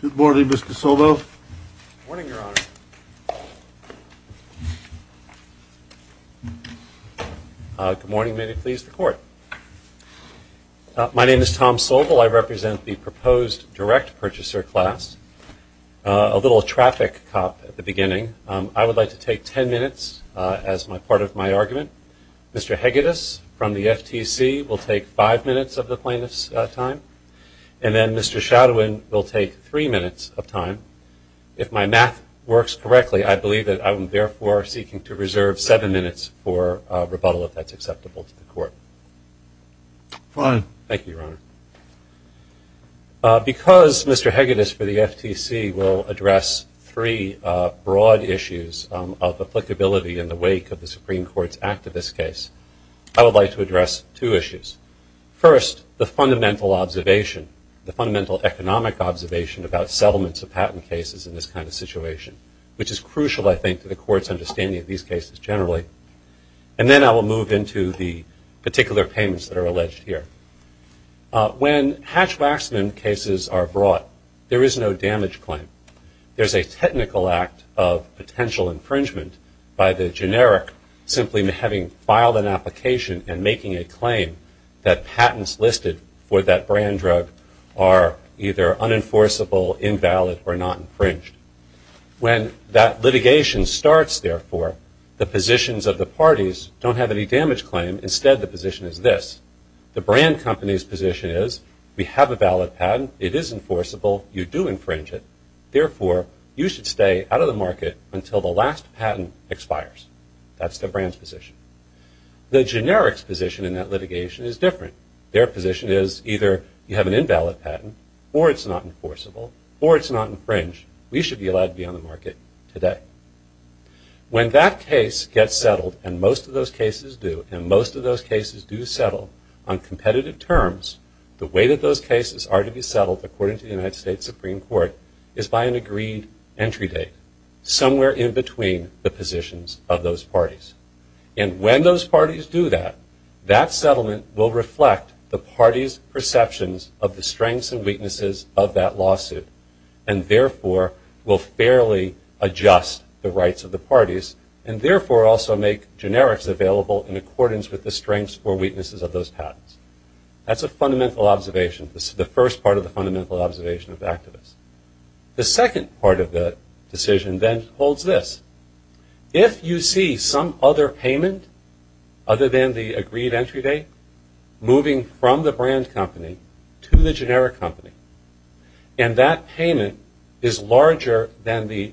Good morning, Mr. Sobel. Good morning, Your Honor. Good morning, may it please the Court. My name is Tom Sobel. I represent the proposed direct purchaser class. A little traffic cop at the beginning. I would like to take ten minutes as part of my argument. Mr. Hegedus from the FTC will take five minutes of the plaintiff's time. And then Mr. Shadowin will take three minutes of time. If my math works correctly, I believe that I am therefore seeking to reserve seven minutes for rebuttal if that's acceptable to the Court. Fine. Thank you, Your Honor. Because Mr. Hegedus for the FTC will address three broad issues of applicability in the wake of the Supreme Court's activist case, I would like to address two issues. First, the fundamental observation, the fundamental economic observation about settlements of patent cases in this kind of situation, which is crucial, I think, to the Court's understanding of these cases generally. And then I will move into the particular payments that are alleged here. When Hatch-Waxman cases are brought, there is no damage claim. There is a technical act of potential infringement by the generic simply having filed an application and making a claim that patents listed for that brand drug are either unenforceable, invalid, or not infringed. When that litigation starts, therefore, the positions of the parties don't have any damage claim. Instead, the position is this. The brand company's position is we have a valid patent. It is enforceable. You do infringe it. Therefore, you should stay out of the market until the last patent expires. That's the brand's position. The generic's position in that litigation is different. Their position is either you have an invalid patent, or it's not enforceable, or it's not infringed. We should be allowed to be on the market today. When that case gets settled, and most of those cases do, and most of those cases do settle on competitive terms, the way that those cases are to be settled, according to the United States Supreme Court, is by an agreed entry date somewhere in between the positions of those parties. And when those parties do that, that settlement will reflect the party's perceptions of the strengths and weaknesses of that lawsuit, and therefore will fairly adjust the rights of the parties, and therefore also make generics available in accordance with the strengths or weaknesses of those patents. That's a fundamental observation. This is the first part of the fundamental observation of activists. The second part of the decision then holds this. If you see some other payment other than the agreed entry date moving from the brand company to the generic company, and that payment is larger than the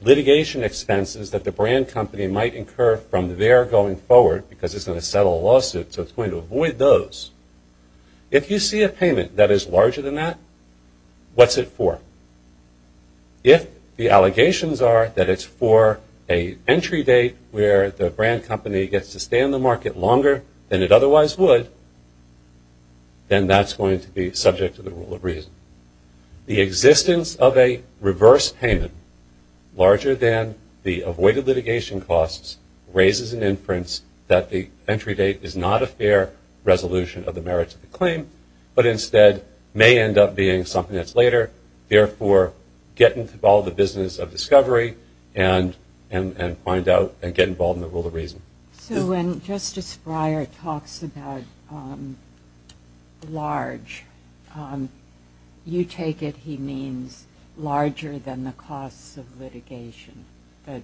litigation expenses that the brand company might incur from there going forward, because it's going to settle a lawsuit, so it's going to avoid those, if you see a payment that is larger than that, what's it for? If the allegations are that it's for an entry date where the brand company gets to stay on the market longer than it otherwise would, then that's going to be subject to the rule of reason. The existence of a reverse payment larger than the avoided litigation costs raises an inference that the entry date is not a fair resolution of the merits of the claim, but instead may end up being something that's later, therefore get involved in the business of discovery and find out and get involved in the rule of reason. So when Justice Breyer talks about large, you take it he means larger than the costs of litigation, that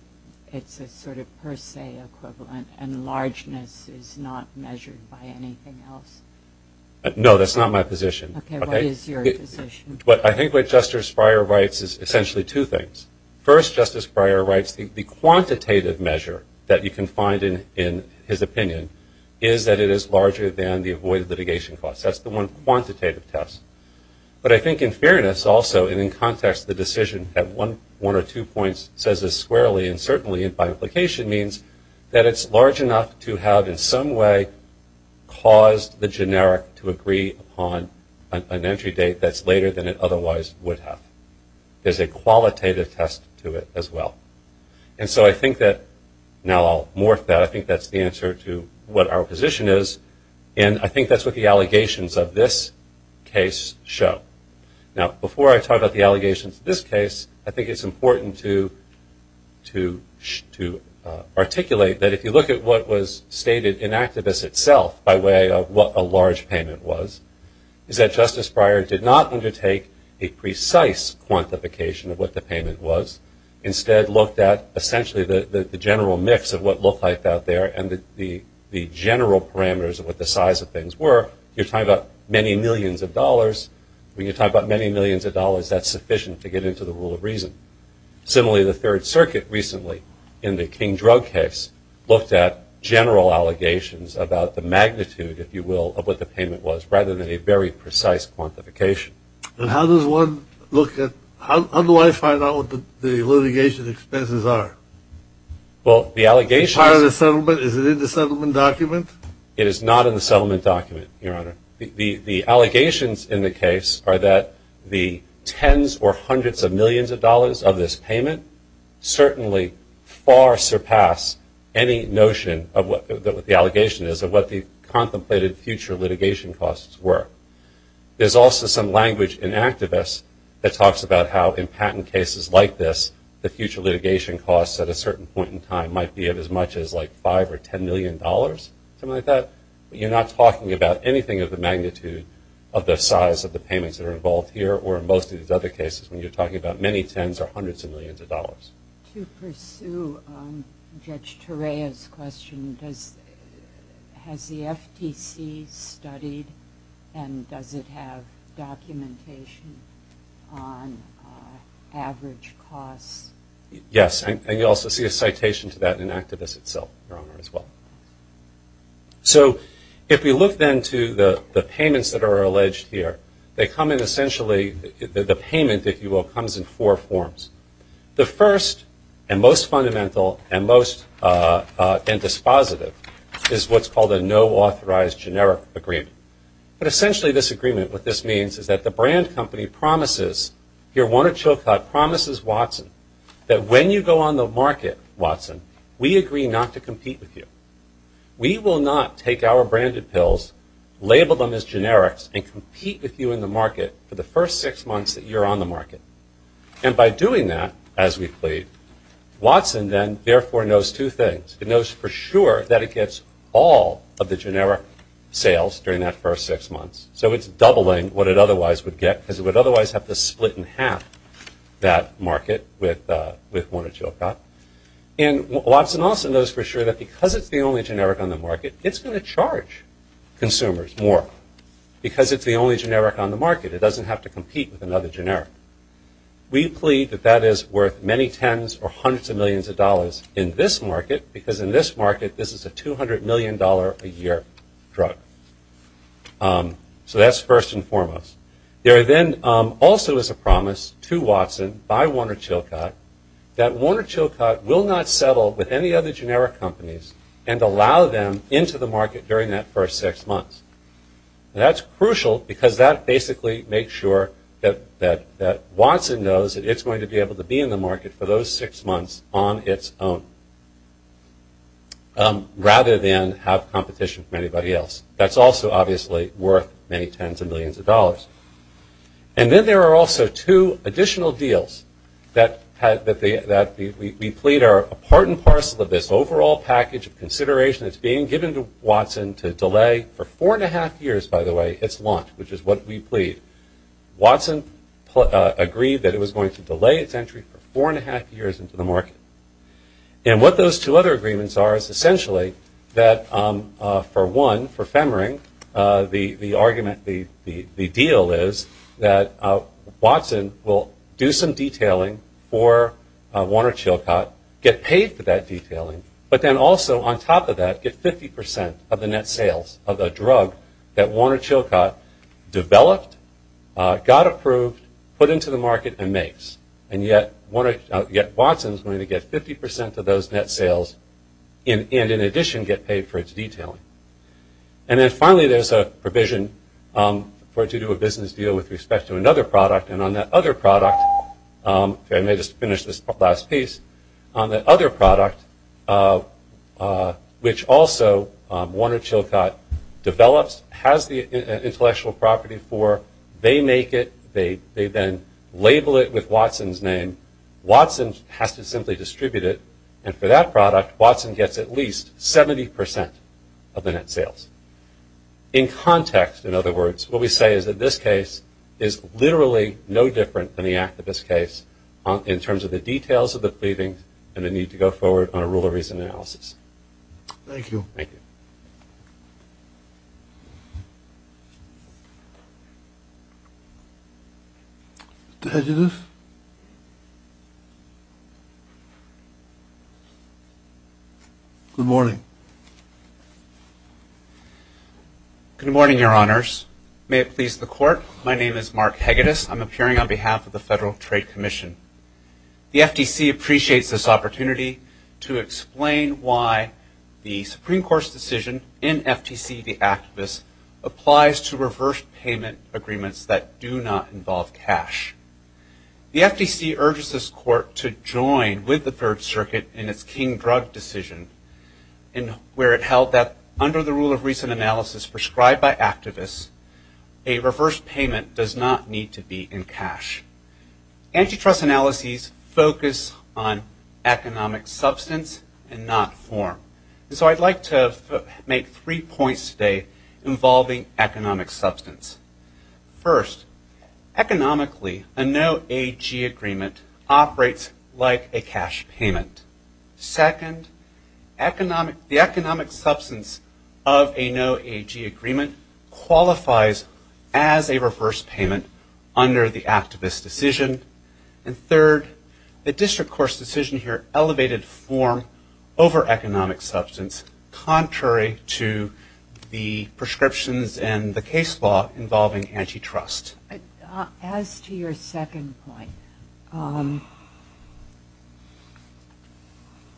it's a sort of per se equivalent and largeness is not measured by anything else? No, that's not my position. Okay, what is your position? I think what Justice Breyer writes is essentially two things. First, Justice Breyer writes the quantitative measure that you can find in his opinion is that it is larger than the avoided litigation costs. That's the one quantitative test. But I think in fairness also and in context the decision at one or two points says this squarely and certainly by implication means that it's large enough to have in some way caused the generic to agree upon an entry date that's later than it otherwise would have. There's a qualitative test to it as well. And so I think that, now I'll morph that, I think that's the answer to what our position is and I think that's what the allegations of this case show. Now before I talk about the allegations of this case, I think it's important to articulate that if you look at what was stated in Activist itself by way of what a large payment was, is that Justice Breyer did not undertake a precise quantification of what the payment was. Instead looked at essentially the general mix of what looked like out there and the general parameters of what the size of things were. You're talking about many millions of dollars. When you talk about many millions of dollars, that's sufficient to get into the rule of reason. Similarly, the Third Circuit recently in the King drug case looked at general allegations about the magnitude, if you will, of what the payment was rather than a very precise quantification. And how does one look at, how do I find out what the litigation expenses are? Well, the allegations Part of the settlement, is it in the settlement document? It is not in the settlement document, Your Honor. The allegations in the case are that the tens or hundreds of millions of dollars of this payment certainly far surpass any notion of what the allegation is of what the contemplated future litigation costs were. There's also some language in Activist that talks about how in patent cases like this the future litigation costs at a certain point in time might be of as much as like five or ten million dollars, something like that. But you're not talking about anything of the magnitude of the size of the payments that are involved here or in most of these other cases when you're talking about many tens or hundreds of millions of dollars. To pursue Judge Torea's question, has the FTC studied and does it have documentation on average costs? Yes, and you also see a citation to that in Activist itself, Your Honor, as well. So if we look then to the payments that are alleged here, they come in essentially, the payment, if you will, comes in four forms. The first and most fundamental and most dispositive is what's called a no-authorized generic agreement. But essentially this agreement, what this means is that the brand company promises, Your Honor Chilcott promises Watson that when you go on the market, Watson, we agree not to compete with you. We will not take our branded pills, label them as generics, and compete with you in the market for the first six months that you're on the market. And by doing that, as we plead, Watson then therefore knows two things. It knows for sure that it gets all of the generic sales during that first six months. So it's doubling what it otherwise would get, because it would otherwise have to split in half that market with Warner Chilcott. And Watson also knows for sure that because it's the only generic on the market, it's going to charge consumers more, because it's the only generic on the market. It doesn't have to compete with another generic. We plead that that is worth many tens or hundreds of millions of dollars in this market, because in this market this is a $200 million a year drug. So that's first and foremost. There then also is a promise to Watson by Warner Chilcott that Warner Chilcott will not settle with any other generic companies and allow them into the market during that first six months. And that's crucial, because that basically makes sure that Watson knows that it's going to be able to be in the market for those six months on its own, rather than have competition from anybody else. And then there are also two additional deals that we plead are a part and parcel of this overall package of consideration that's being given to Watson to delay for four and a half years, by the way, its launch, which is what we plead. Watson agreed that it was going to delay its entry for four and a half years into the market. And what those two other agreements are is essentially that, for one, for Femmering, the argument, the deal is that Watson will do some detailing for Warner Chilcott, get paid for that detailing, but then also on top of that get 50 percent of the net sales of a drug that Warner Chilcott developed, got approved, put into the market and makes. And yet Watson is going to get 50 percent of those net sales and in addition get paid for its detailing. And then finally there's a provision for it to do a business deal with respect to another product. And on that other product, I may just finish this last piece. On that other product, which also Warner Chilcott develops, has the intellectual property for, they make it, they then label it with Watson's name. Watson has to simply distribute it. And for that product, Watson gets at least 70 percent of the net sales. In context, in other words, what we say is that this case is literally no different than the activist case in terms of the details of the pleadings and the need to go forward on a rule of reason analysis. Thank you. Mr. Hagedis? Good morning. Good morning, Your Honors. May it please the Court, my name is Mark Hagedis. I'm appearing on behalf of the Federal Trade Commission. The FTC appreciates this opportunity to explain why the Supreme Court's decision in FTC v. Activists applies to reverse payment agreements that do not involve cash. The FTC urges this Court to join with the Third Circuit in its King Drug decision where it held that under the rule of reason analysis prescribed by Activists, a reverse payment does not need to be in cash. Antitrust analyses focus on economic substance and not form. And so I'd like to make three points today involving economic substance. First, economically, a no AG agreement operates like a cash payment. Second, the economic substance of a no AG agreement qualifies as a reverse payment under the Activist decision. And third, the District Court's decision here elevated form over economic substance, contrary to the prescriptions and the case law involving antitrust. As to your second point,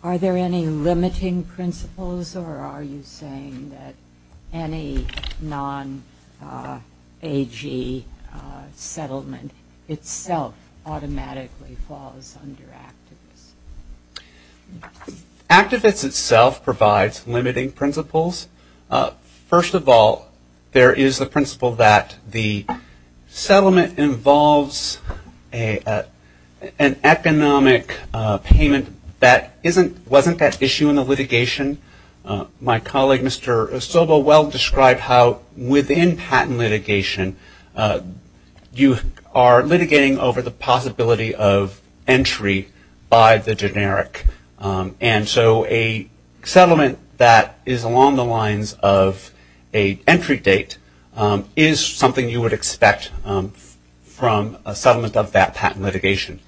are there any limiting principles or are you saying that any non-AG settlement itself automatically falls under Activists? Activists itself provides limiting principles. First of all, there is the principle that the settlement involves an economic payment that wasn't at issue in the litigation. My colleague, Mr. Osobo, well described how within patent litigation, you are litigating over the possibility of entry by the generic. And so a settlement that is along the lines of a entry date is something you would expect from a settlement of that patent litigation.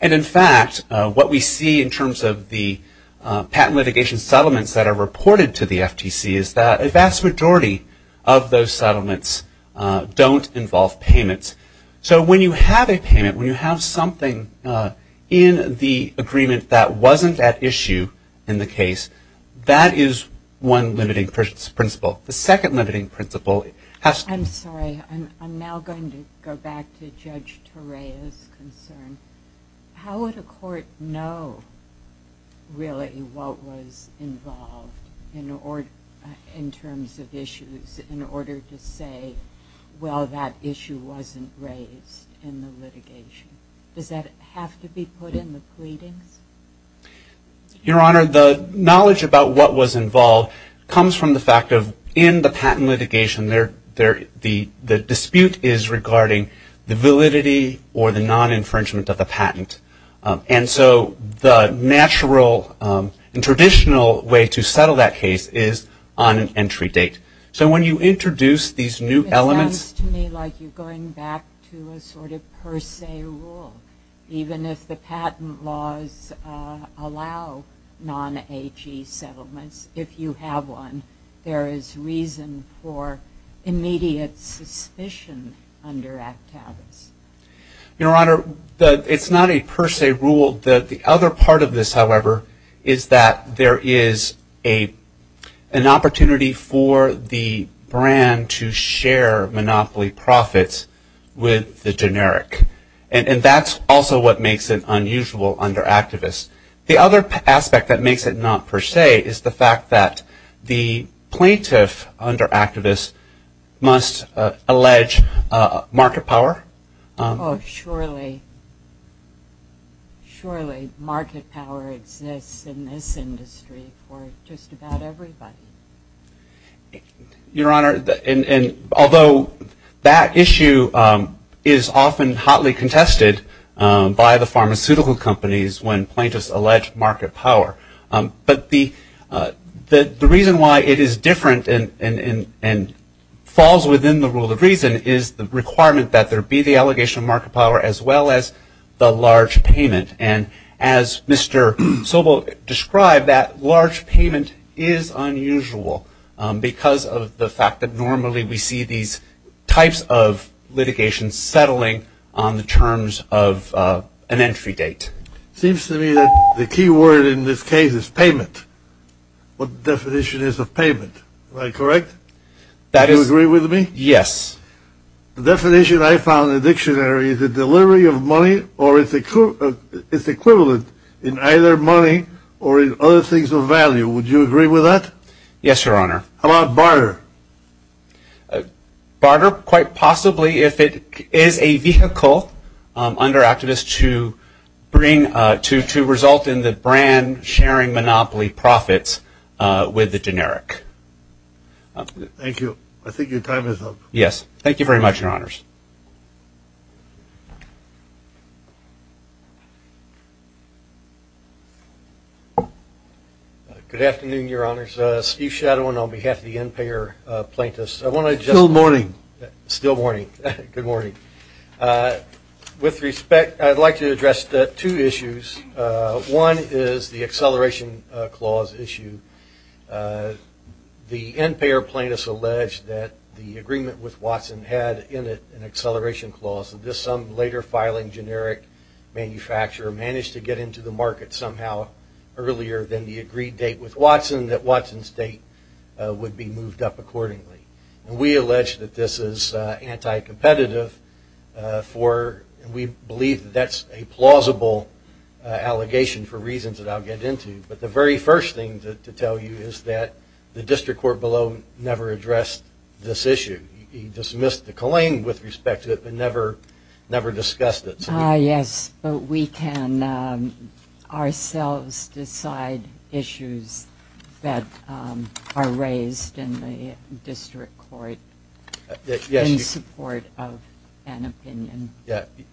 And in fact, what we see in terms of the patent litigation settlements that are reported to the FTC is that a vast majority of those settlements don't involve payments. So when you have a payment, when you have something in the agreement that wasn't at issue in the case, that is one limiting principle. The second limiting principle has to be... Sorry, I'm now going to go back to Judge Torea's concern. How would a court know really what was involved in terms of issues in order to say, well, that issue wasn't raised in the litigation? Does that have to be put in the pleadings? Your Honor, the knowledge about what was involved comes from the fact of in the patent litigation, the dispute is regarding the validity or the non-infringement of the patent. And so the natural and traditional way to settle that case is on an entry date. So when you introduce these new elements... It sounds to me like you're going back to a sort of per se rule. Even if the patent laws allow non-HE settlements, if you have one, there is reason for immediate suspicion under Actavis. Your Honor, it's not a per se rule. The other part of this, however, is that there is an opportunity for the brand to share monopoly profits with the generic. And that's also what makes it unusual under Actavis. The other aspect that makes it not per se is the fact that the plaintiff under Actavis must allege market power. Oh, surely. Surely market power exists in this industry for just about everybody. Your Honor, although that issue is often hotly contested by the pharmaceutical companies when plaintiffs allege market power, but the reason why it is different and falls within the rule of reason is the requirement that there be the allegation of market power as well as the large payment. And as Mr. Sobel described, that large payment is unusual because of the fact that normally we see these types of litigation settling on the terms of an entry date. It seems to me that the key word in this case is payment. What definition is of payment? Am I correct? That is... Do you agree with me? Yes. The definition I found in the dictionary is the delivery of money or its equivalent in either money or in other things of value. Would you agree with that? Yes, Your Honor. How about barter? Barter quite possibly if it is a vehicle under activists to result in the brand sharing monopoly profits with the generic. Thank you. I think your time is up. Yes. Thank you very much, Your Honors. Good afternoon, Your Honors. Steve Shadowin on behalf of the NPAIR plaintiffs. I want to just... Still morning. Still morning. Good morning. With respect, I'd like to address two issues. One is the acceleration clause issue. The NPAIR plaintiffs allege that the agreement with Watson had in it an acceleration clause. This later filing generic manufacturer managed to get into the market somehow earlier than the agreed date with Watson that Watson's date would be moved up accordingly. We allege that this is anti-competitive for... We believe that that's a plausible allegation for reasons that I'll get into. But the very first thing to tell you is that the district court below never addressed this issue. He dismissed the claim with respect to it but never discussed it. Yes, but we can ourselves decide issues that are raised in the district court in support of an opinion.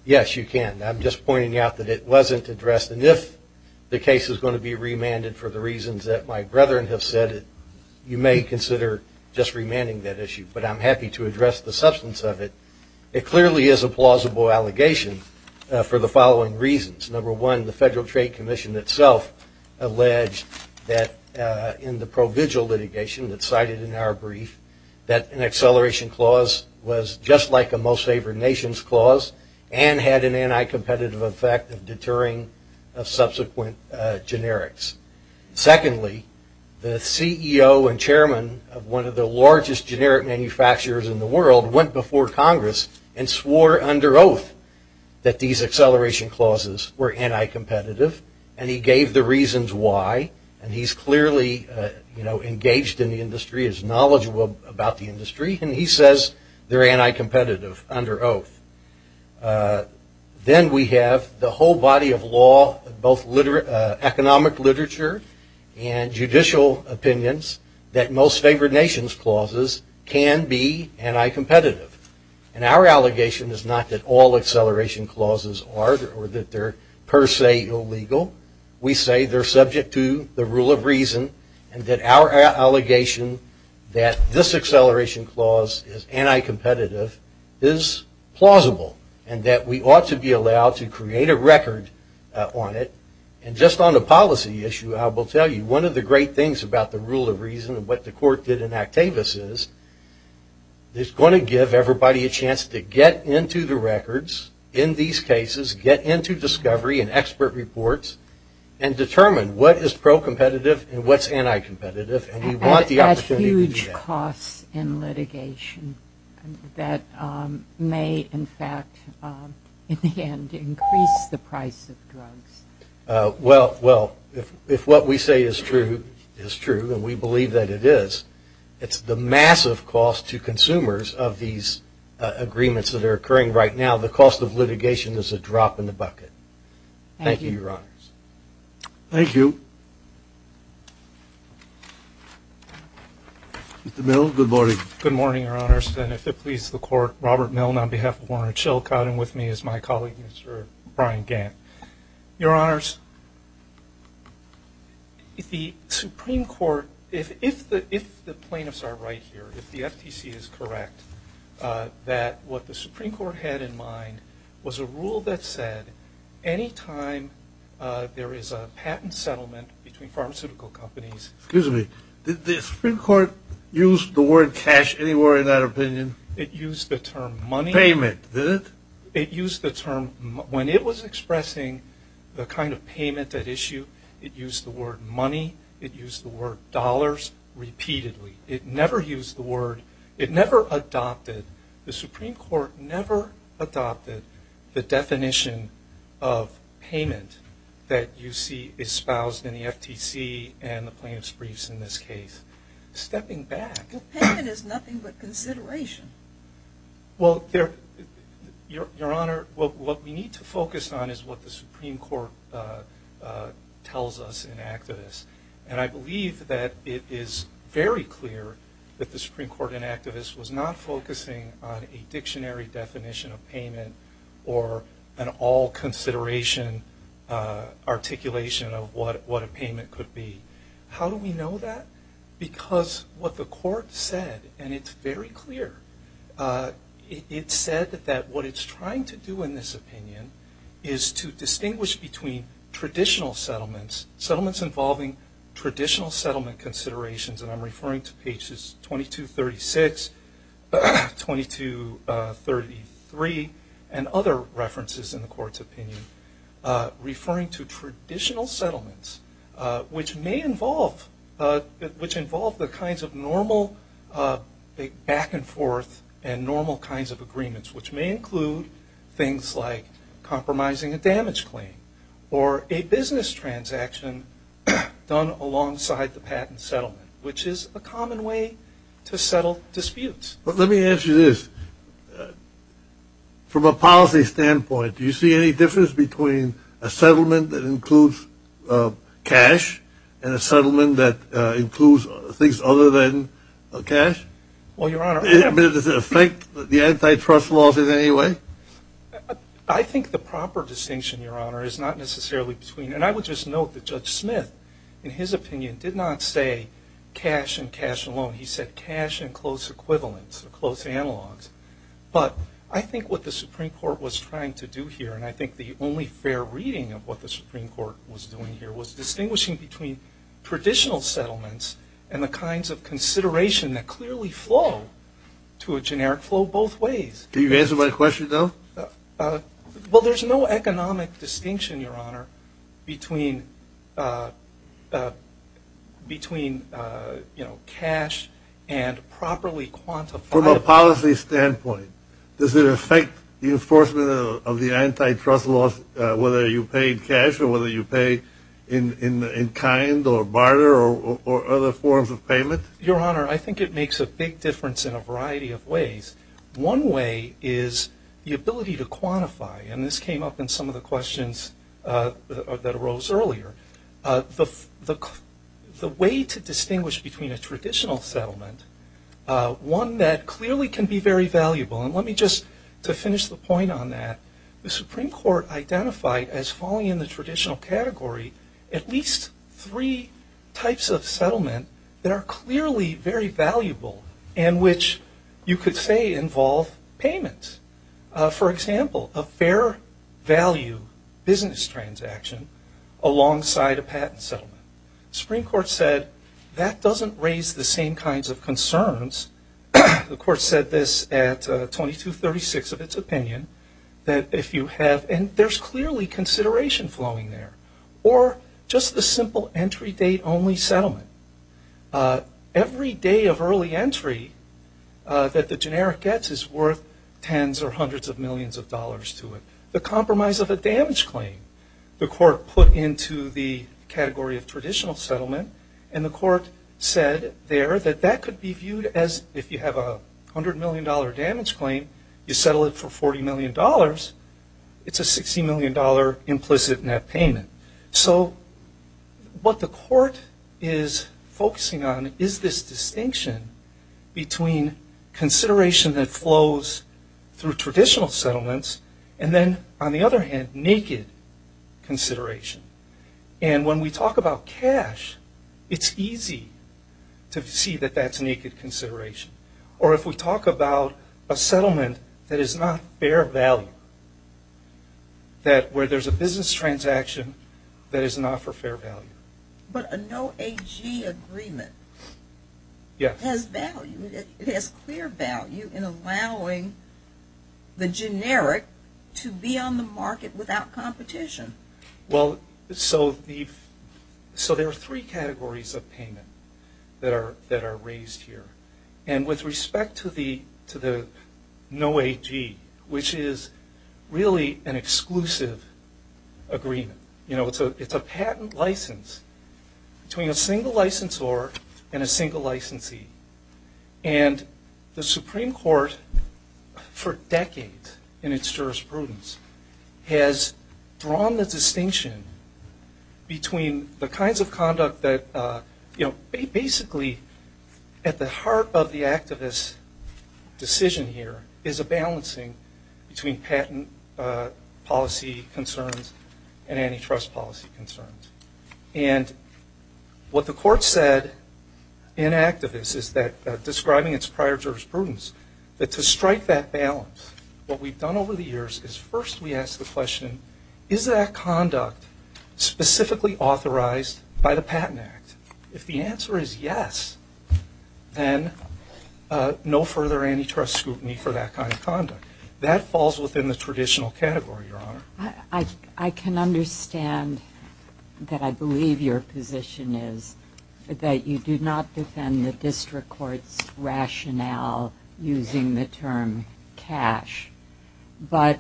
Yes, you can. I'm just pointing out that it wasn't addressed. And if the case is going to be remanded for the reasons that my brethren have said, you may consider just remanding that issue. But I'm happy to address the substance of it. It clearly is a plausible allegation for the following reasons. Number one, the Federal Trade Commission itself alleged that in the provisional litigation that's cited in our brief, that an acceleration clause was just like a most favored nations clause and had an anti-competitive effect of deterring subsequent generics. Secondly, the CEO and chairman of one of the largest generic manufacturers in the world went before Congress and swore under oath that these acceleration clauses were anti-competitive. And he gave the reasons why. And he's clearly engaged in the industry, is knowledgeable about the industry, and he says they're anti-competitive under oath. Then we have the whole body of law, both economic literature and judicial opinions, that most favored nations clauses can be anti-competitive. And our allegation is not that all acceleration clauses are or that they're per se illegal. We say they're subject to the rule of reason and that our allegation that this acceleration clause is anti-competitive is plausible and that we ought to be allowed to create a record on it. And just on the policy issue, I will tell you, one of the great things about the rule of reason and what the court did in Actavis is, it's going to give everybody a chance to get into the records in these cases, get into discovery and expert reports, and determine what is pro-competitive and what's anti-competitive and we want the opportunity to do that. At huge costs in litigation that may, in fact, in the end, increase the price of drugs. Well, if what we say is true, is true, and we believe that it is, it's the massive cost to consumers of these agreements that are occurring right now. The cost of litigation is a drop in the bucket. Thank you, Your Honors. Thank you. Mr. Milne, good morning. Good morning, Your Honors. And if it pleases the Court, Robert Milne on behalf of Warner and Schilkot and with me is my colleague, Mr. Brian Gant. Your Honors, if the Supreme Court, if the plaintiffs are right here, if the FTC is correct, that what the Supreme Court had in mind was a rule that said anytime there is a patent settlement between pharmaceutical companies. Excuse me, did the Supreme Court use the word cash anywhere in that opinion? It used the term money. Payment, did it? It used the term, when it was expressing the kind of payment at issue, it used the word money, it used the word dollars repeatedly. It never used the word, it never adopted, the Supreme Court never adopted the definition of payment that you see espoused in the FTC and the plaintiff's briefs in this case. Stepping back. Well, payment is nothing but consideration. Well, Your Honor, what we need to focus on is what the Supreme Court tells us in Actavis. And I believe that it is very clear that the Supreme Court in Actavis was not focusing on a dictionary definition of payment or an all-consideration articulation of what a payment could be. How do we know that? Because what the Court said, and it's very clear, it said that what it's trying to do in this opinion is to distinguish between traditional settlements, settlements involving traditional settlement considerations, and I'm referring to pages 2236, 2233, and other references in the Court's opinion, referring to traditional settlements, which may involve the kinds of normal back and forth and normal kinds of agreements, which may include things like compromising a damage claim or a business transaction done alongside the patent settlement, which is a common way to settle disputes. Well, let me ask you this. From a policy standpoint, do you see any difference between a settlement that includes cash and a settlement that includes things other than cash? Well, Your Honor. Does it affect the antitrust laws in any way? I think the proper distinction, Your Honor, is not necessarily between, and I would just note that Judge Smith, in his opinion, did not say cash and cash alone. He said cash and close equivalents or close analogs. But I think what the Supreme Court was trying to do here, and I think the only fair reading of what the Supreme Court was doing here, was distinguishing between traditional settlements and the kinds of consideration that clearly flow to a generic flow both ways. Do you answer my question, though? Well, there's no economic distinction, Your Honor, between cash and properly quantified. From a policy standpoint, does it affect the enforcement of the antitrust laws, whether you pay in cash or whether you pay in kind or barter or other forms of payment? Your Honor, I think it makes a big difference in a variety of ways. One way is the ability to quantify, and this came up in some of the questions that arose earlier. The way to distinguish between a traditional settlement, one that clearly can be very valuable, and let me just, to finish the point on that, the Supreme Court identified as falling in the traditional category at least three types of settlement that are clearly very valuable and which you could say involve payment. For example, a fair value business transaction alongside a patent settlement. The Supreme Court said that doesn't raise the same kinds of concerns. The Court said this at 2236 of its opinion, that if you have, and there's clearly consideration flowing there, or just the simple entry date only settlement. Every day of early entry that the generic gets is worth tens or hundreds of millions of dollars to it. The compromise of a damage claim, the Court put into the category of traditional settlement, and the Court said there that that could be viewed as if you have a $100 million damage claim, you settle it for $40 million, it's a $60 million implicit net payment. So what the Court is focusing on is this distinction between consideration that flows through traditional settlements and then, on the other hand, naked consideration. And when we talk about cash, it's easy to see that that's naked consideration. Or if we talk about a settlement that is not fair value, that where there's a business transaction that is not for fair value. But a no AG agreement has value. It has clear value in allowing the generic to be on the market without competition. Well, so there are three categories of payment that are raised here. And with respect to the no AG, which is really an exclusive agreement. It's a patent license between a single licensor and a single licensee. And the Supreme Court, for decades in its jurisprudence, has drawn the distinction between the kinds of conduct that, you know, basically at the heart of the activist decision here is a balancing between patent policy concerns and antitrust policy concerns. And what the Court said in activist is that, describing its prior jurisprudence, that to strike that balance, what we've done over the years is first we ask the question, is that conduct specifically authorized by the Patent Act? If the answer is yes, then no further antitrust scrutiny for that kind of conduct. That falls within the traditional category, Your Honor. I can understand that I believe your position is that you do not defend the district court's rationale using the term cash. But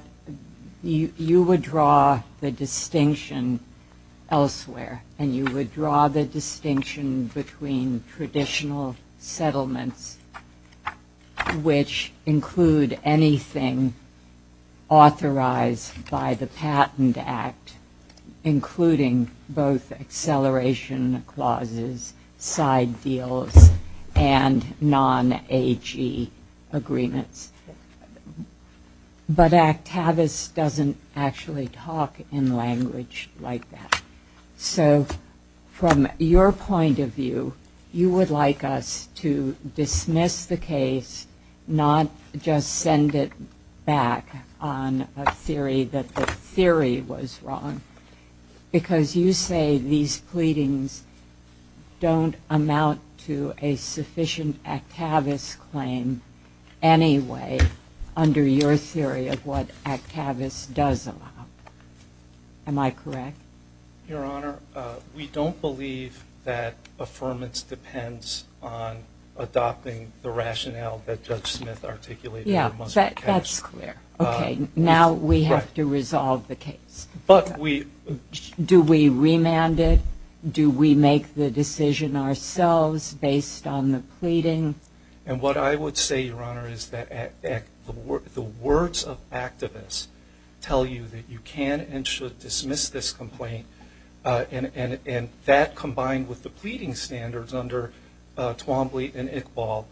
you would draw the distinction elsewhere. And you would draw the distinction between traditional settlements, which include anything authorized by the Patent Act, including both acceleration clauses, side deals, and non-AG agreements. But Actavis doesn't actually talk in language like that. So from your point of view, you would like us to dismiss the case, not just send it back on a theory that the theory was wrong. Because you say these pleadings don't amount to a sufficient Actavis claim anyway under your theory of what Actavis does allow. Am I correct? Your Honor, we don't believe that affirmance depends on adopting the rationale that Judge Smith articulated. That's clear. Now we have to resolve the case. Do we remand it? Do we make the decision ourselves based on the pleading? And what I would say, Your Honor, is that the words of Actavis tell you that you can and should dismiss this complaint. And that combined with the pleading standards under Twombly and Iqbal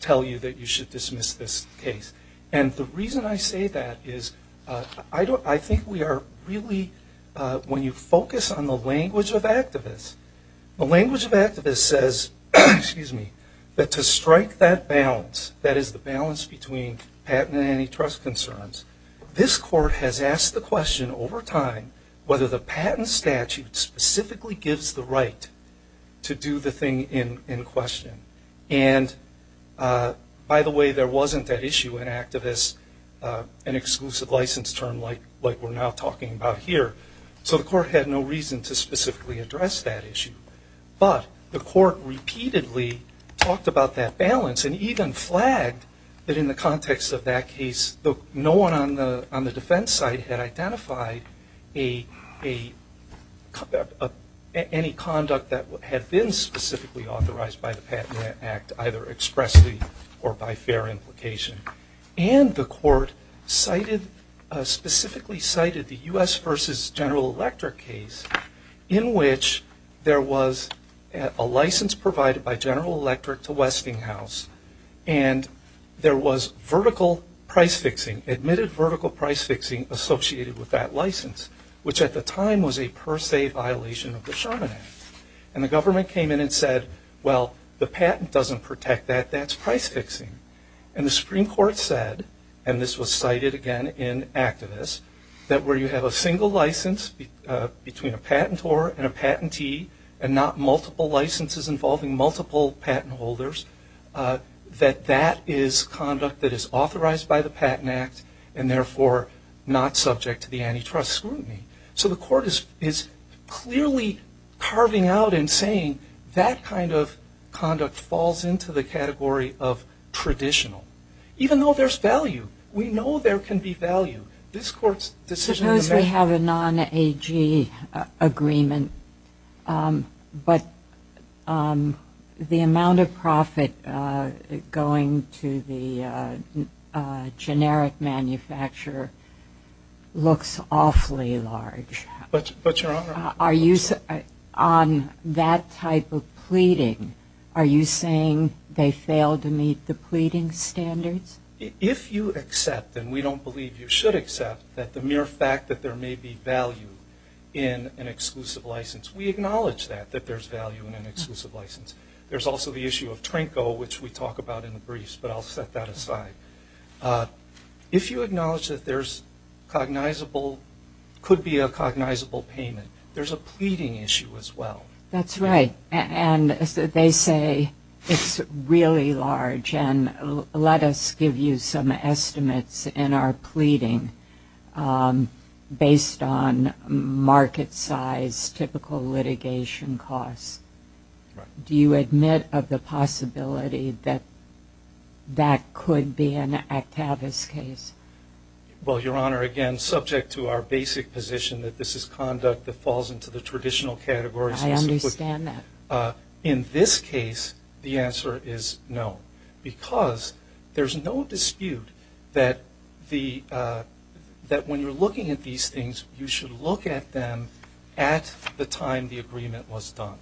tell you that you should dismiss this case. And the reason I say that is I think we are really, when you focus on the language of Actavis, the language of Actavis says that to strike that balance, that is the balance between patent and antitrust concerns, this Court has asked the question over time whether the patent statute specifically gives the right to do the thing in question. And, by the way, there wasn't that issue in Actavis, an exclusive license term like we're now talking about here, so the Court had no reason to specifically address that issue. But the Court repeatedly talked about that balance and even flagged that in the context of that case, no one on the defense side had identified any conduct that had been specifically authorized by the Patent Act, either expressly or by fair implication. And the Court specifically cited the U.S. v. General Electric case in which there was a license provided by General Electric to Westinghouse and there was vertical price fixing, admitted vertical price fixing associated with that license, which at the time was a per se violation of the Sherman Act. And the government came in and said, well the patent doesn't protect that, that's price fixing. And the Supreme Court said, and this was cited again in Actavis, that where you have a single license between a patentor and a patentee and not multiple licenses involving multiple patent holders, that that is conduct that is authorized by the Patent Act and therefore not subject to the antitrust scrutiny. So the Court is clearly carving out and saying that kind of conduct falls into the category of traditional, even though there's value. We know there can be value. Suppose we have a non-AG agreement, but the amount of profit going to the generic manufacturer looks awfully large. But, Your Honor. Are you, on that type of pleading, are you saying they failed to meet the pleading standards? If you accept, and we don't believe you should accept, that the mere fact that there may be value in an exclusive license, we acknowledge that, that there's value in an exclusive license. There's also the issue of TRNCO, which we talk about in the briefs, but I'll set that aside. If you acknowledge that there's cognizable, could be a cognizable payment, there's a pleading issue as well. That's right. And they say it's really large. Let us give you some estimates in our pleading based on market size, typical litigation costs. Do you admit of the possibility that that could be an Actavis case? Well, Your Honor, again, subject to our basic position that this is conduct that falls into the traditional category. I understand that. In this case, the answer is no, because there's no dispute that when you're looking at these things, you should look at them at the time the agreement was done.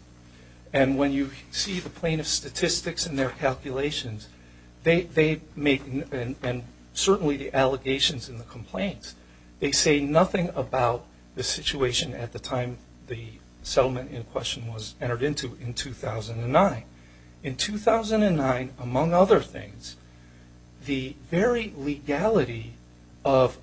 And when you see the plaintiff's statistics and their calculations, they make, and certainly the allegations and the complaints, they say nothing about the situation at the time the settlement in question was entered into in 2009. In 2009, among other things, the very legality of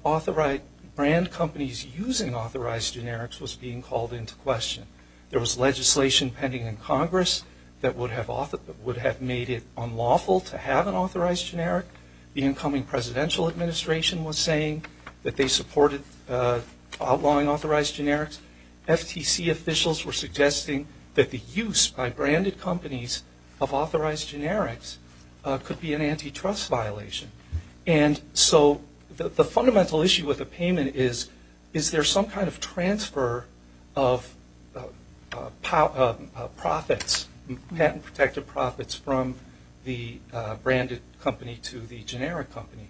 brand companies using authorized generics was being called into question. There was legislation pending in Congress that would have made it unlawful to have an authorized generic. The incoming presidential administration was saying that they supported outlawing authorized generics. FTC officials were suggesting that the use by branded companies of authorized generics could be an antitrust violation. And so the fundamental issue with the payment is, is there some kind of transfer of profits, patent protected profits from the branded company to the generic company?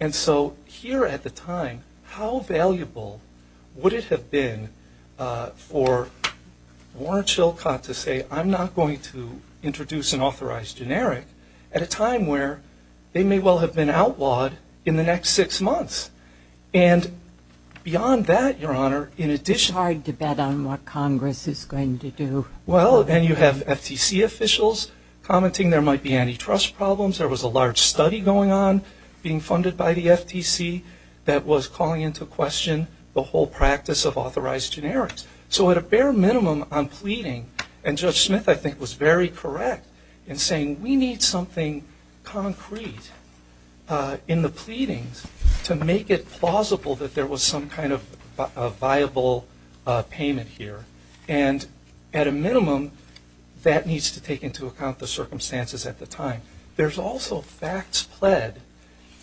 And so here at the time, how valuable would it have been for Warren Chilcott to say, I'm not going to introduce an authorized generic, at a time where they may well have been outlawed in the next six months. And beyond that, Your Honor, in addition... It's hard to bet on what Congress is going to do. Well, then you have FTC officials commenting there might be antitrust problems. There was a large study going on, being funded by the FTC, that was calling into question the whole practice of authorized generics. So at a bare minimum on pleading, and Judge Smith I think was very correct in saying we need something concrete in the pleadings to make it plausible that there was some kind of viable payment here. And at a minimum, that needs to take into account the circumstances at the time. There's also facts pled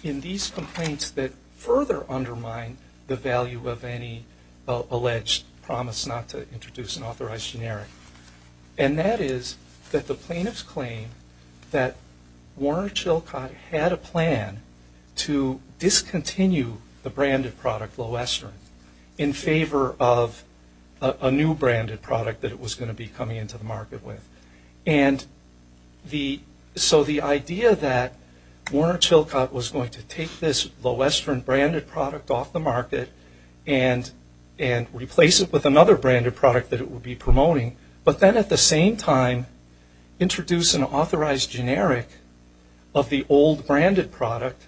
in these complaints that further undermine the value of any alleged promise not to introduce an authorized generic. And that is that the plaintiffs claim that Warren Chilcott had a plan to discontinue the branded product Lowestern in favor of a new branded product that it was going to be coming into the market with. And so the idea that Warren Chilcott was going to take this Lowestern branded product off the market and replace it with another branded product that it would be promoting, but then at the same time introduce an authorized generic of the old branded product,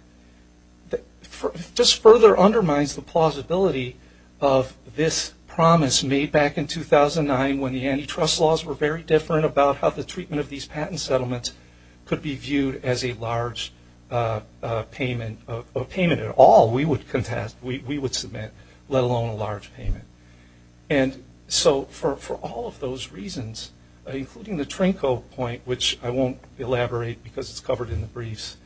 just further undermines the plausibility of this promise made back in 2009 when the antitrust laws were very different about how the treatment of these patent settlements could be viewed as a large payment at all we would contest, we would submit, let alone a large payment. And so for all of those reasons, including the Trinko point, which I won't elaborate because it's covered in the briefs,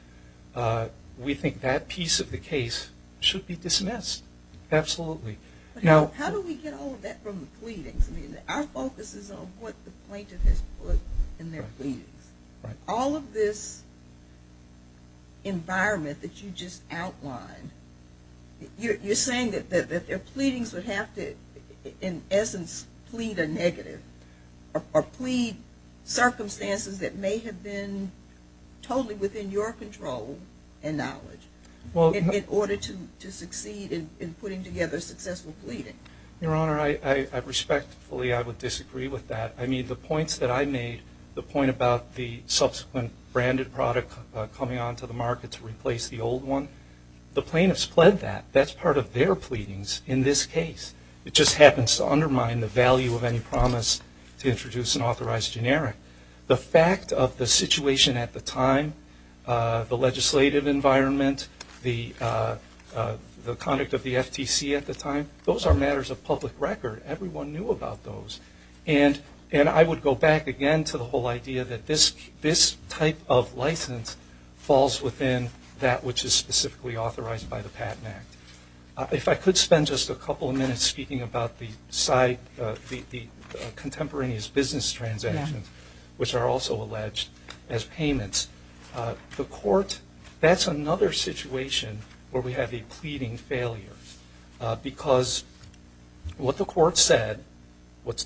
we think that piece of the case should be dismissed. Absolutely. How do we get all of that from the pleadings? Our focus is on what the plaintiff has put in their pleadings. All of this environment that you just outlined, you're saying that their pleadings would have to, in essence, plead a negative or plead circumstances that may have been totally within your control and knowledge in order to succeed in putting together a successful pleading. Your Honor, I respectfully, I would disagree with that. I mean, the points that I made, the point about the subsequent branded product coming onto the market to replace the old one, the plaintiffs pled that. That's part of their pleadings in this case. It just happens to undermine the value of any promise to introduce an authorized generic. The fact of the situation at the time, the legislative environment, the conduct of the FTC at the time, those are matters of public record. Everyone knew about those. And I would go back again to the whole idea that this type of license falls within that which is specifically authorized by the Patent Act. If I could spend just a couple of minutes speaking about the contemporaneous business transactions, which are also alleged as payments. The court, that's another situation where we have a pleading failure because what the court said, what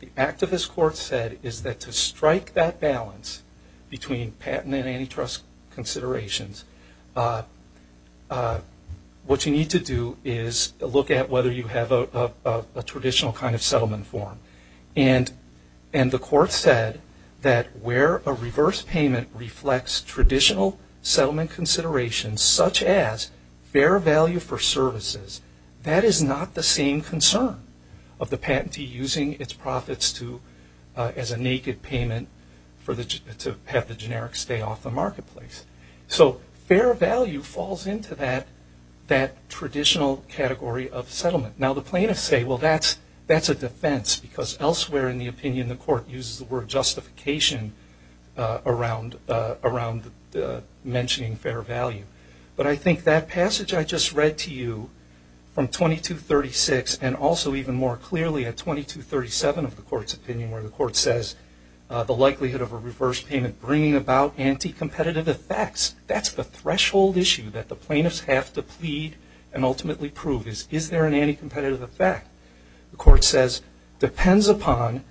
the activist court said is that to strike that balance between patent and antitrust considerations, what you need to do is look at whether you have a traditional kind of settlement form. And the court said that where a reverse payment reflects traditional settlement considerations, such as fair value for services, that is not the same concern of the patentee using its profits as a naked payment to have the generic stay off the marketplace. So fair value falls into that traditional category of settlement. Now, the plaintiffs say, well, that's a defense because elsewhere in the opinion the court uses the word justification around mentioning fair value. But I think that passage I just read to you from 2236 and also even more clearly at 2237 of the court's opinion where the court says the likelihood of a reverse payment bringing about anti-competitive effects, that's the threshold issue that the plaintiffs have to plead and ultimately prove is, is there an anti-competitive effect? The court says, depends upon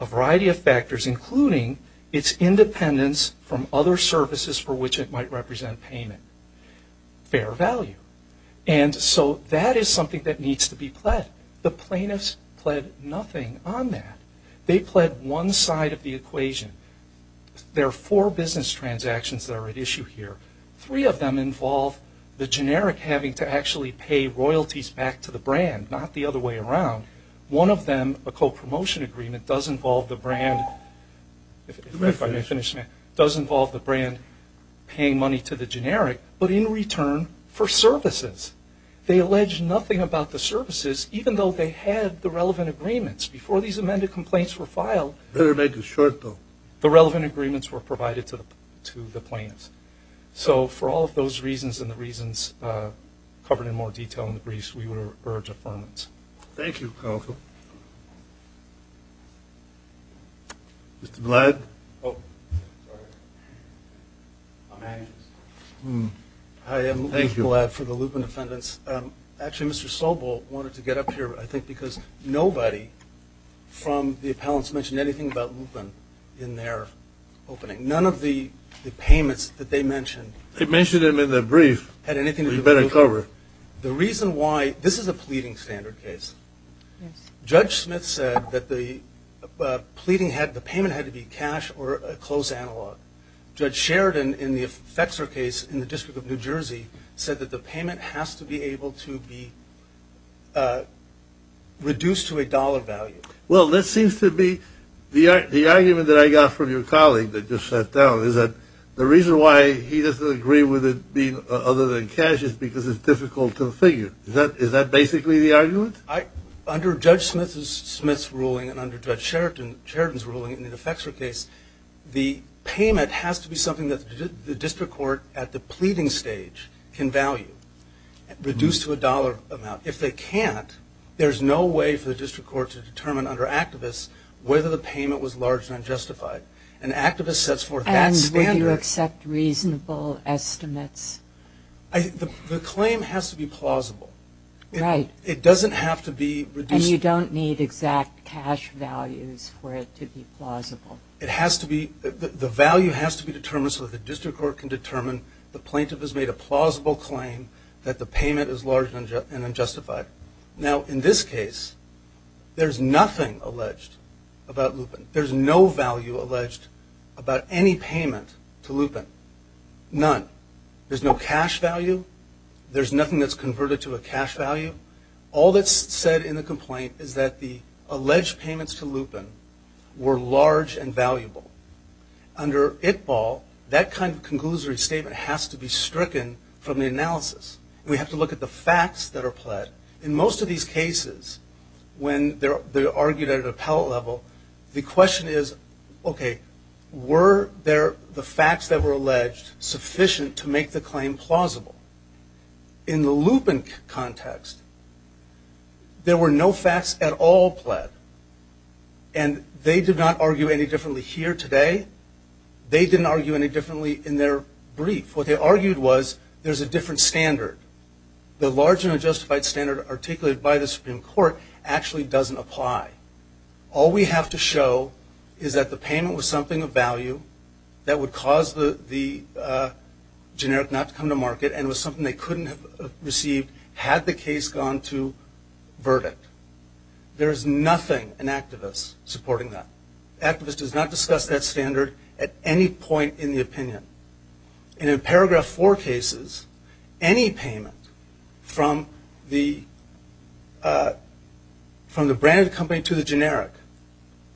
a variety of factors including its independence from other services for which it might represent payment. Fair value. And so that is something that needs to be pled. The plaintiffs pled nothing on that. They pled one side of the equation. There are four business transactions that are at issue here. Three of them involve the generic having to actually pay royalties back to the brand, not the other way around. One of them, a co-promotion agreement, does involve the brand paying money to the generic, but in return for services. They allege nothing about the services, even though they had the relevant agreements. Before these amended complaints were filed, Better make it short, though. The relevant agreements were provided to the plaintiffs. So for all of those reasons and the reasons covered in more detail in the briefs, we would urge affirmance. Thank you, counsel. Mr. Blatt. Hi, I'm Lee Blatt for the Lupin Defendants. Actually, Mr. Sobel wanted to get up here, I think, because nobody from the appellants mentioned anything about Lupin in their opening. None of the payments that they mentioned had anything to do with Lupin. This is a pleading standard case. Judge Smith said that the payment had to be cash or a close analog. Judge Sheridan, in the Fetzer case in the District of New Jersey, said that the payment has to be able to be reduced to a dollar value. Well, that seems to be the argument that I got from your colleague that just sat down, is that the reason why he doesn't agree with it being other than cash is because it's difficult to figure. Is that basically the argument? Under Judge Smith's ruling and under Judge Sheridan's ruling in the Fetzer case, the payment has to be something that the district court at the pleading stage can value, reduced to a dollar amount. If they can't, there's no way for the district court to determine under activists whether the payment was large and unjustified. An activist sets forth that standard. And would you accept reasonable estimates? The claim has to be plausible. Right. It doesn't have to be reduced. So you don't need exact cash values for it to be plausible? It has to be. The value has to be determined so that the district court can determine the plaintiff has made a plausible claim that the payment is large and unjustified. Now, in this case, there's nothing alleged about Lupin. There's no value alleged about any payment to Lupin. None. There's no cash value. There's nothing that's converted to a cash value. All that's said in the complaint is that the alleged payments to Lupin were large and valuable. Under ITBAL, that kind of conclusory statement has to be stricken from the analysis. We have to look at the facts that are pled. In most of these cases, when they're argued at appellate level, the question is, okay, were there the facts that were alleged sufficient to make the claim plausible? In the Lupin context, there were no facts at all pled. And they did not argue any differently here today. They didn't argue any differently in their brief. What they argued was there's a different standard. The large and unjustified standard articulated by the Supreme Court actually doesn't apply. All we have to show is that the payment was something of value that would cause the generic not to come to market and was something they couldn't have received had the case gone to verdict. There's nothing in activists supporting that. Activists does not discuss that standard at any point in the opinion. And in Paragraph 4 cases, any payment from the brand of the company to the generic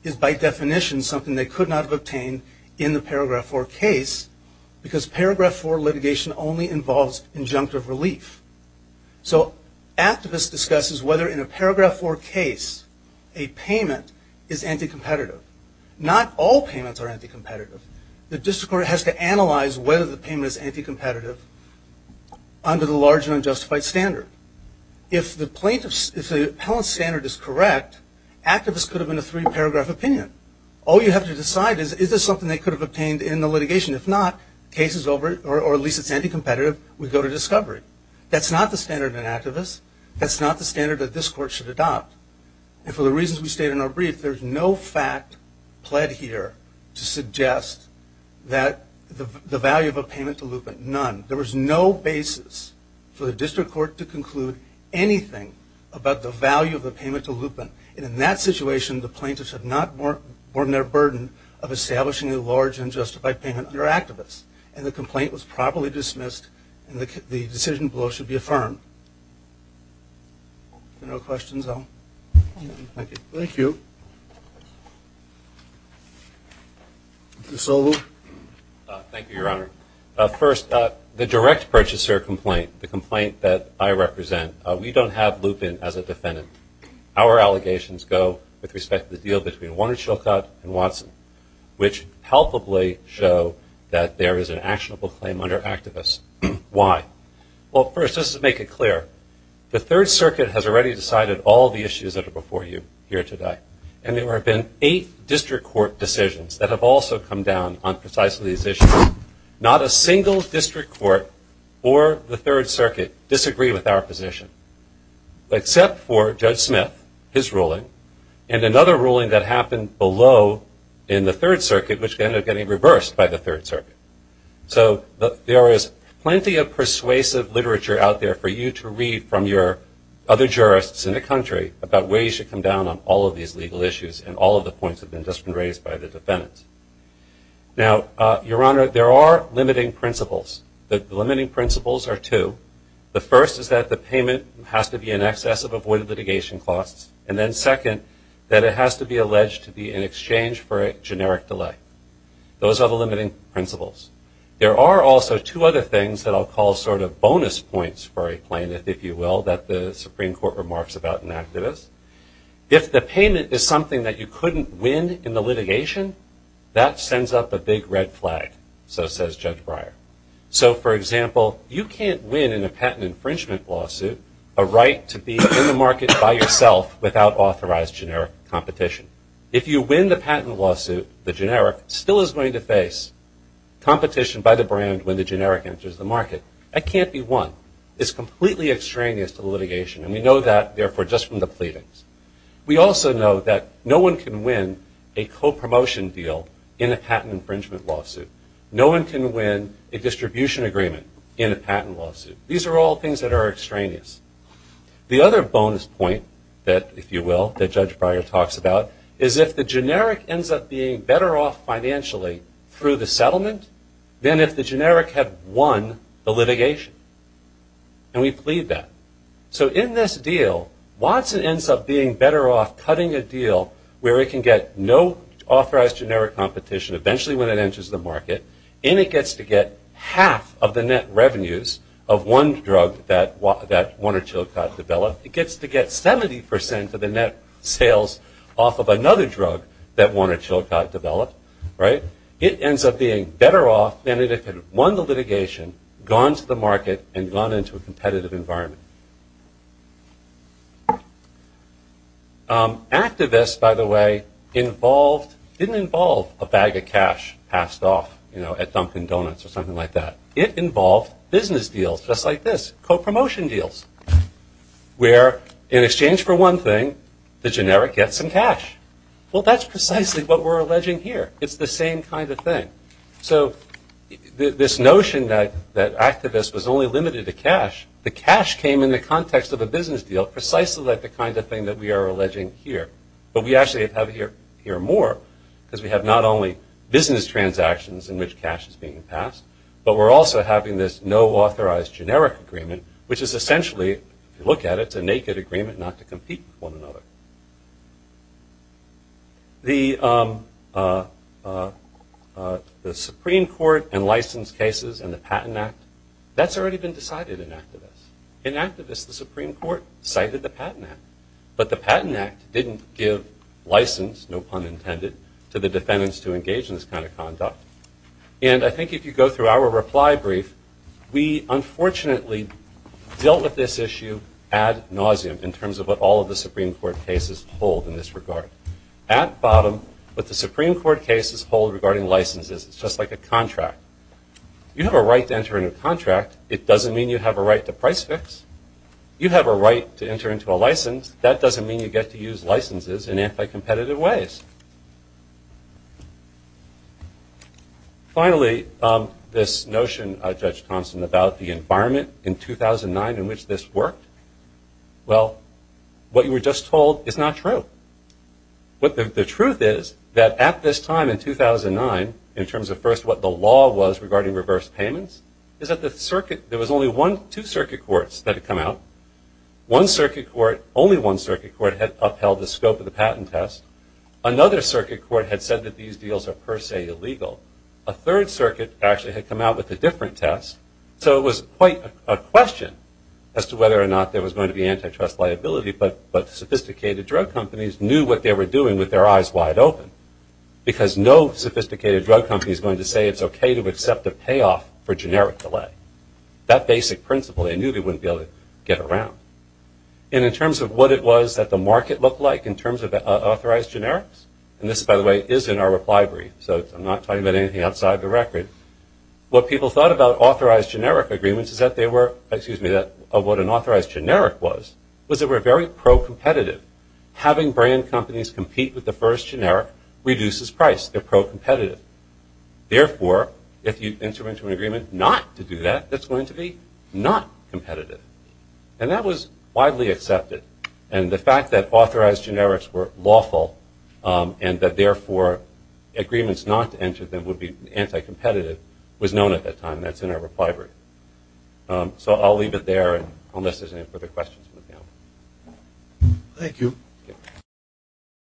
is by definition something they could not have obtained in the case because Paragraph 4 litigation only involves injunctive relief. So activists discusses whether in a Paragraph 4 case a payment is anti-competitive. Not all payments are anti-competitive. The district court has to analyze whether the payment is anti-competitive under the large and unjustified standard. If the plaintiff's, if the appellant's standard is correct, activists could have been a three-paragraph opinion. All you have to decide is, is this something they could have obtained in the litigation? If not, case is over or at least it's anti-competitive, we go to discovery. That's not the standard in activists. That's not the standard that this court should adopt. And for the reasons we state in our brief, there's no fact pled here to suggest that the value of a payment to Lupin, none. There was no basis for the district court to conclude anything about the value of the payment to Lupin. And in that situation, the plaintiffs have not borne their burden of establishing a large unjustified payment under activists. And the complaint was properly dismissed, and the decision below should be affirmed. Are there no questions? Thank you. Mr. Solu. Thank you, Your Honor. First, the direct purchaser complaint, the complaint that I represent, we don't have Lupin as a defendant. Our allegations go with respect to the deal between Warner Chilcott and Watson, which palpably show that there is an actionable claim under activists. Why? Well, first, just to make it clear, the Third Circuit has already decided all the issues that are before you here today. And there have been eight district court decisions that have also come down on precisely these issues. Not a single district court or the Third Circuit disagreed with our position, except for Judge Smith, his ruling, and another ruling that happened below in the Third Circuit, which ended up getting reversed by the Third Circuit. So there is plenty of persuasive literature out there for you to read from your other jurists in the country about where you should come down on all of these legal issues and all of the points that have just been raised by the defendants. Now, Your Honor, there are limiting principles. The limiting principles are two. The first is that the payment has to be in excess of avoided litigation costs. And then second, that it has to be alleged to be in exchange for a generic delay. Those are the limiting principles. There are also two other things that I'll call sort of bonus points for a plaintiff, if you will, that the Supreme Court remarks about in activists. If the payment is something that you couldn't win in the litigation, that sends up a big red flag, so says Judge Breyer. So, for example, you can't win in a patent infringement lawsuit a right to be in the market by yourself without authorized generic competition. If you win the patent lawsuit, the generic still is going to face competition by the brand when the generic enters the market. That can't be won. It's completely extraneous to litigation. And we know that, therefore, just from the pleadings. We also know that no one can win a co-promotion deal in a patent infringement lawsuit. No one can win a distribution agreement in a patent lawsuit. These are all things that are extraneous. The other bonus point that, if you will, that Judge Breyer talks about is if the generic ends up being better off financially through the settlement than if the generic had won the litigation. And we plead that. So in this deal, Watson ends up being better off cutting a deal where it can get no authorized generic competition eventually when it enters the market. And it gets to get half of the net revenues of one drug that Warner Chilcot developed. It gets to get 70% of the net sales off of another drug that Warner Chilcot developed. It ends up being better off than if it had won the litigation, gone to the market, and gone into a competitive environment. Activists, by the way, didn't involve a bag of cash passed off at Dunkin' Donuts or something like that. It involved business deals just like this, co-promotion deals, where in exchange for one thing, the generic gets some cash. Well, that's precisely what we're alleging here. It's the same kind of thing. So this notion that activists was only limited to cash, the cash came from the context of a business deal, precisely like the kind of thing that we are alleging here. But we actually have here more because we have not only business transactions in which cash is being passed, but we're also having this no authorized generic agreement, which is essentially, if you look at it, it's a naked agreement not to compete with one another. The Supreme Court and license cases and the Patent Act, that's already been decided in activists. In activists, the Supreme Court cited the Patent Act. But the Patent Act didn't give license, no pun intended, to the defendants to engage in this kind of conduct. And I think if you go through our reply brief, we unfortunately dealt with this issue ad nauseum in terms of what all of the Supreme Court cases hold in this regard. At bottom, what the Supreme Court cases hold regarding licenses, it's just like a contract. You have a right to enter into a contract. It doesn't mean you have a right to price fix. You have a right to enter into a license. That doesn't mean you get to use licenses in anti-competitive ways. Finally, this notion, Judge Thompson, about the environment in 2009 in which this worked, well, what you were just told is not true. The truth is that at this time in 2009, in terms of first what the law was regarding reverse payments is that there was only two circuit courts that had come out. One circuit court, only one circuit court had upheld the scope of the patent test. Another circuit court had said that these deals are per se illegal. A third circuit actually had come out with a different test. So it was quite a question as to whether or not there was going to be antitrust liability. But sophisticated drug companies knew what they were doing with their eyes wide open because no sophisticated drug company is going to say it's okay to accept a payoff for generic delay. That basic principle they knew they wouldn't be able to get around. And in terms of what it was that the market looked like in terms of authorized generics, and this, by the way, is in our reply brief, so I'm not talking about anything outside the record, what people thought about authorized generic agreements is that they were, excuse me, of what an authorized generic was, was they were very pro-competitive. Having brand companies compete with the first generic reduces price. They're pro-competitive. Therefore, if you enter into an agreement not to do that, that's going to be not competitive. And that was widely accepted. And the fact that authorized generics were lawful and that, therefore, agreements not to enter them would be anti-competitive was known at that time. That's in our reply brief. So I'll leave it there unless there's any further questions. Thank you.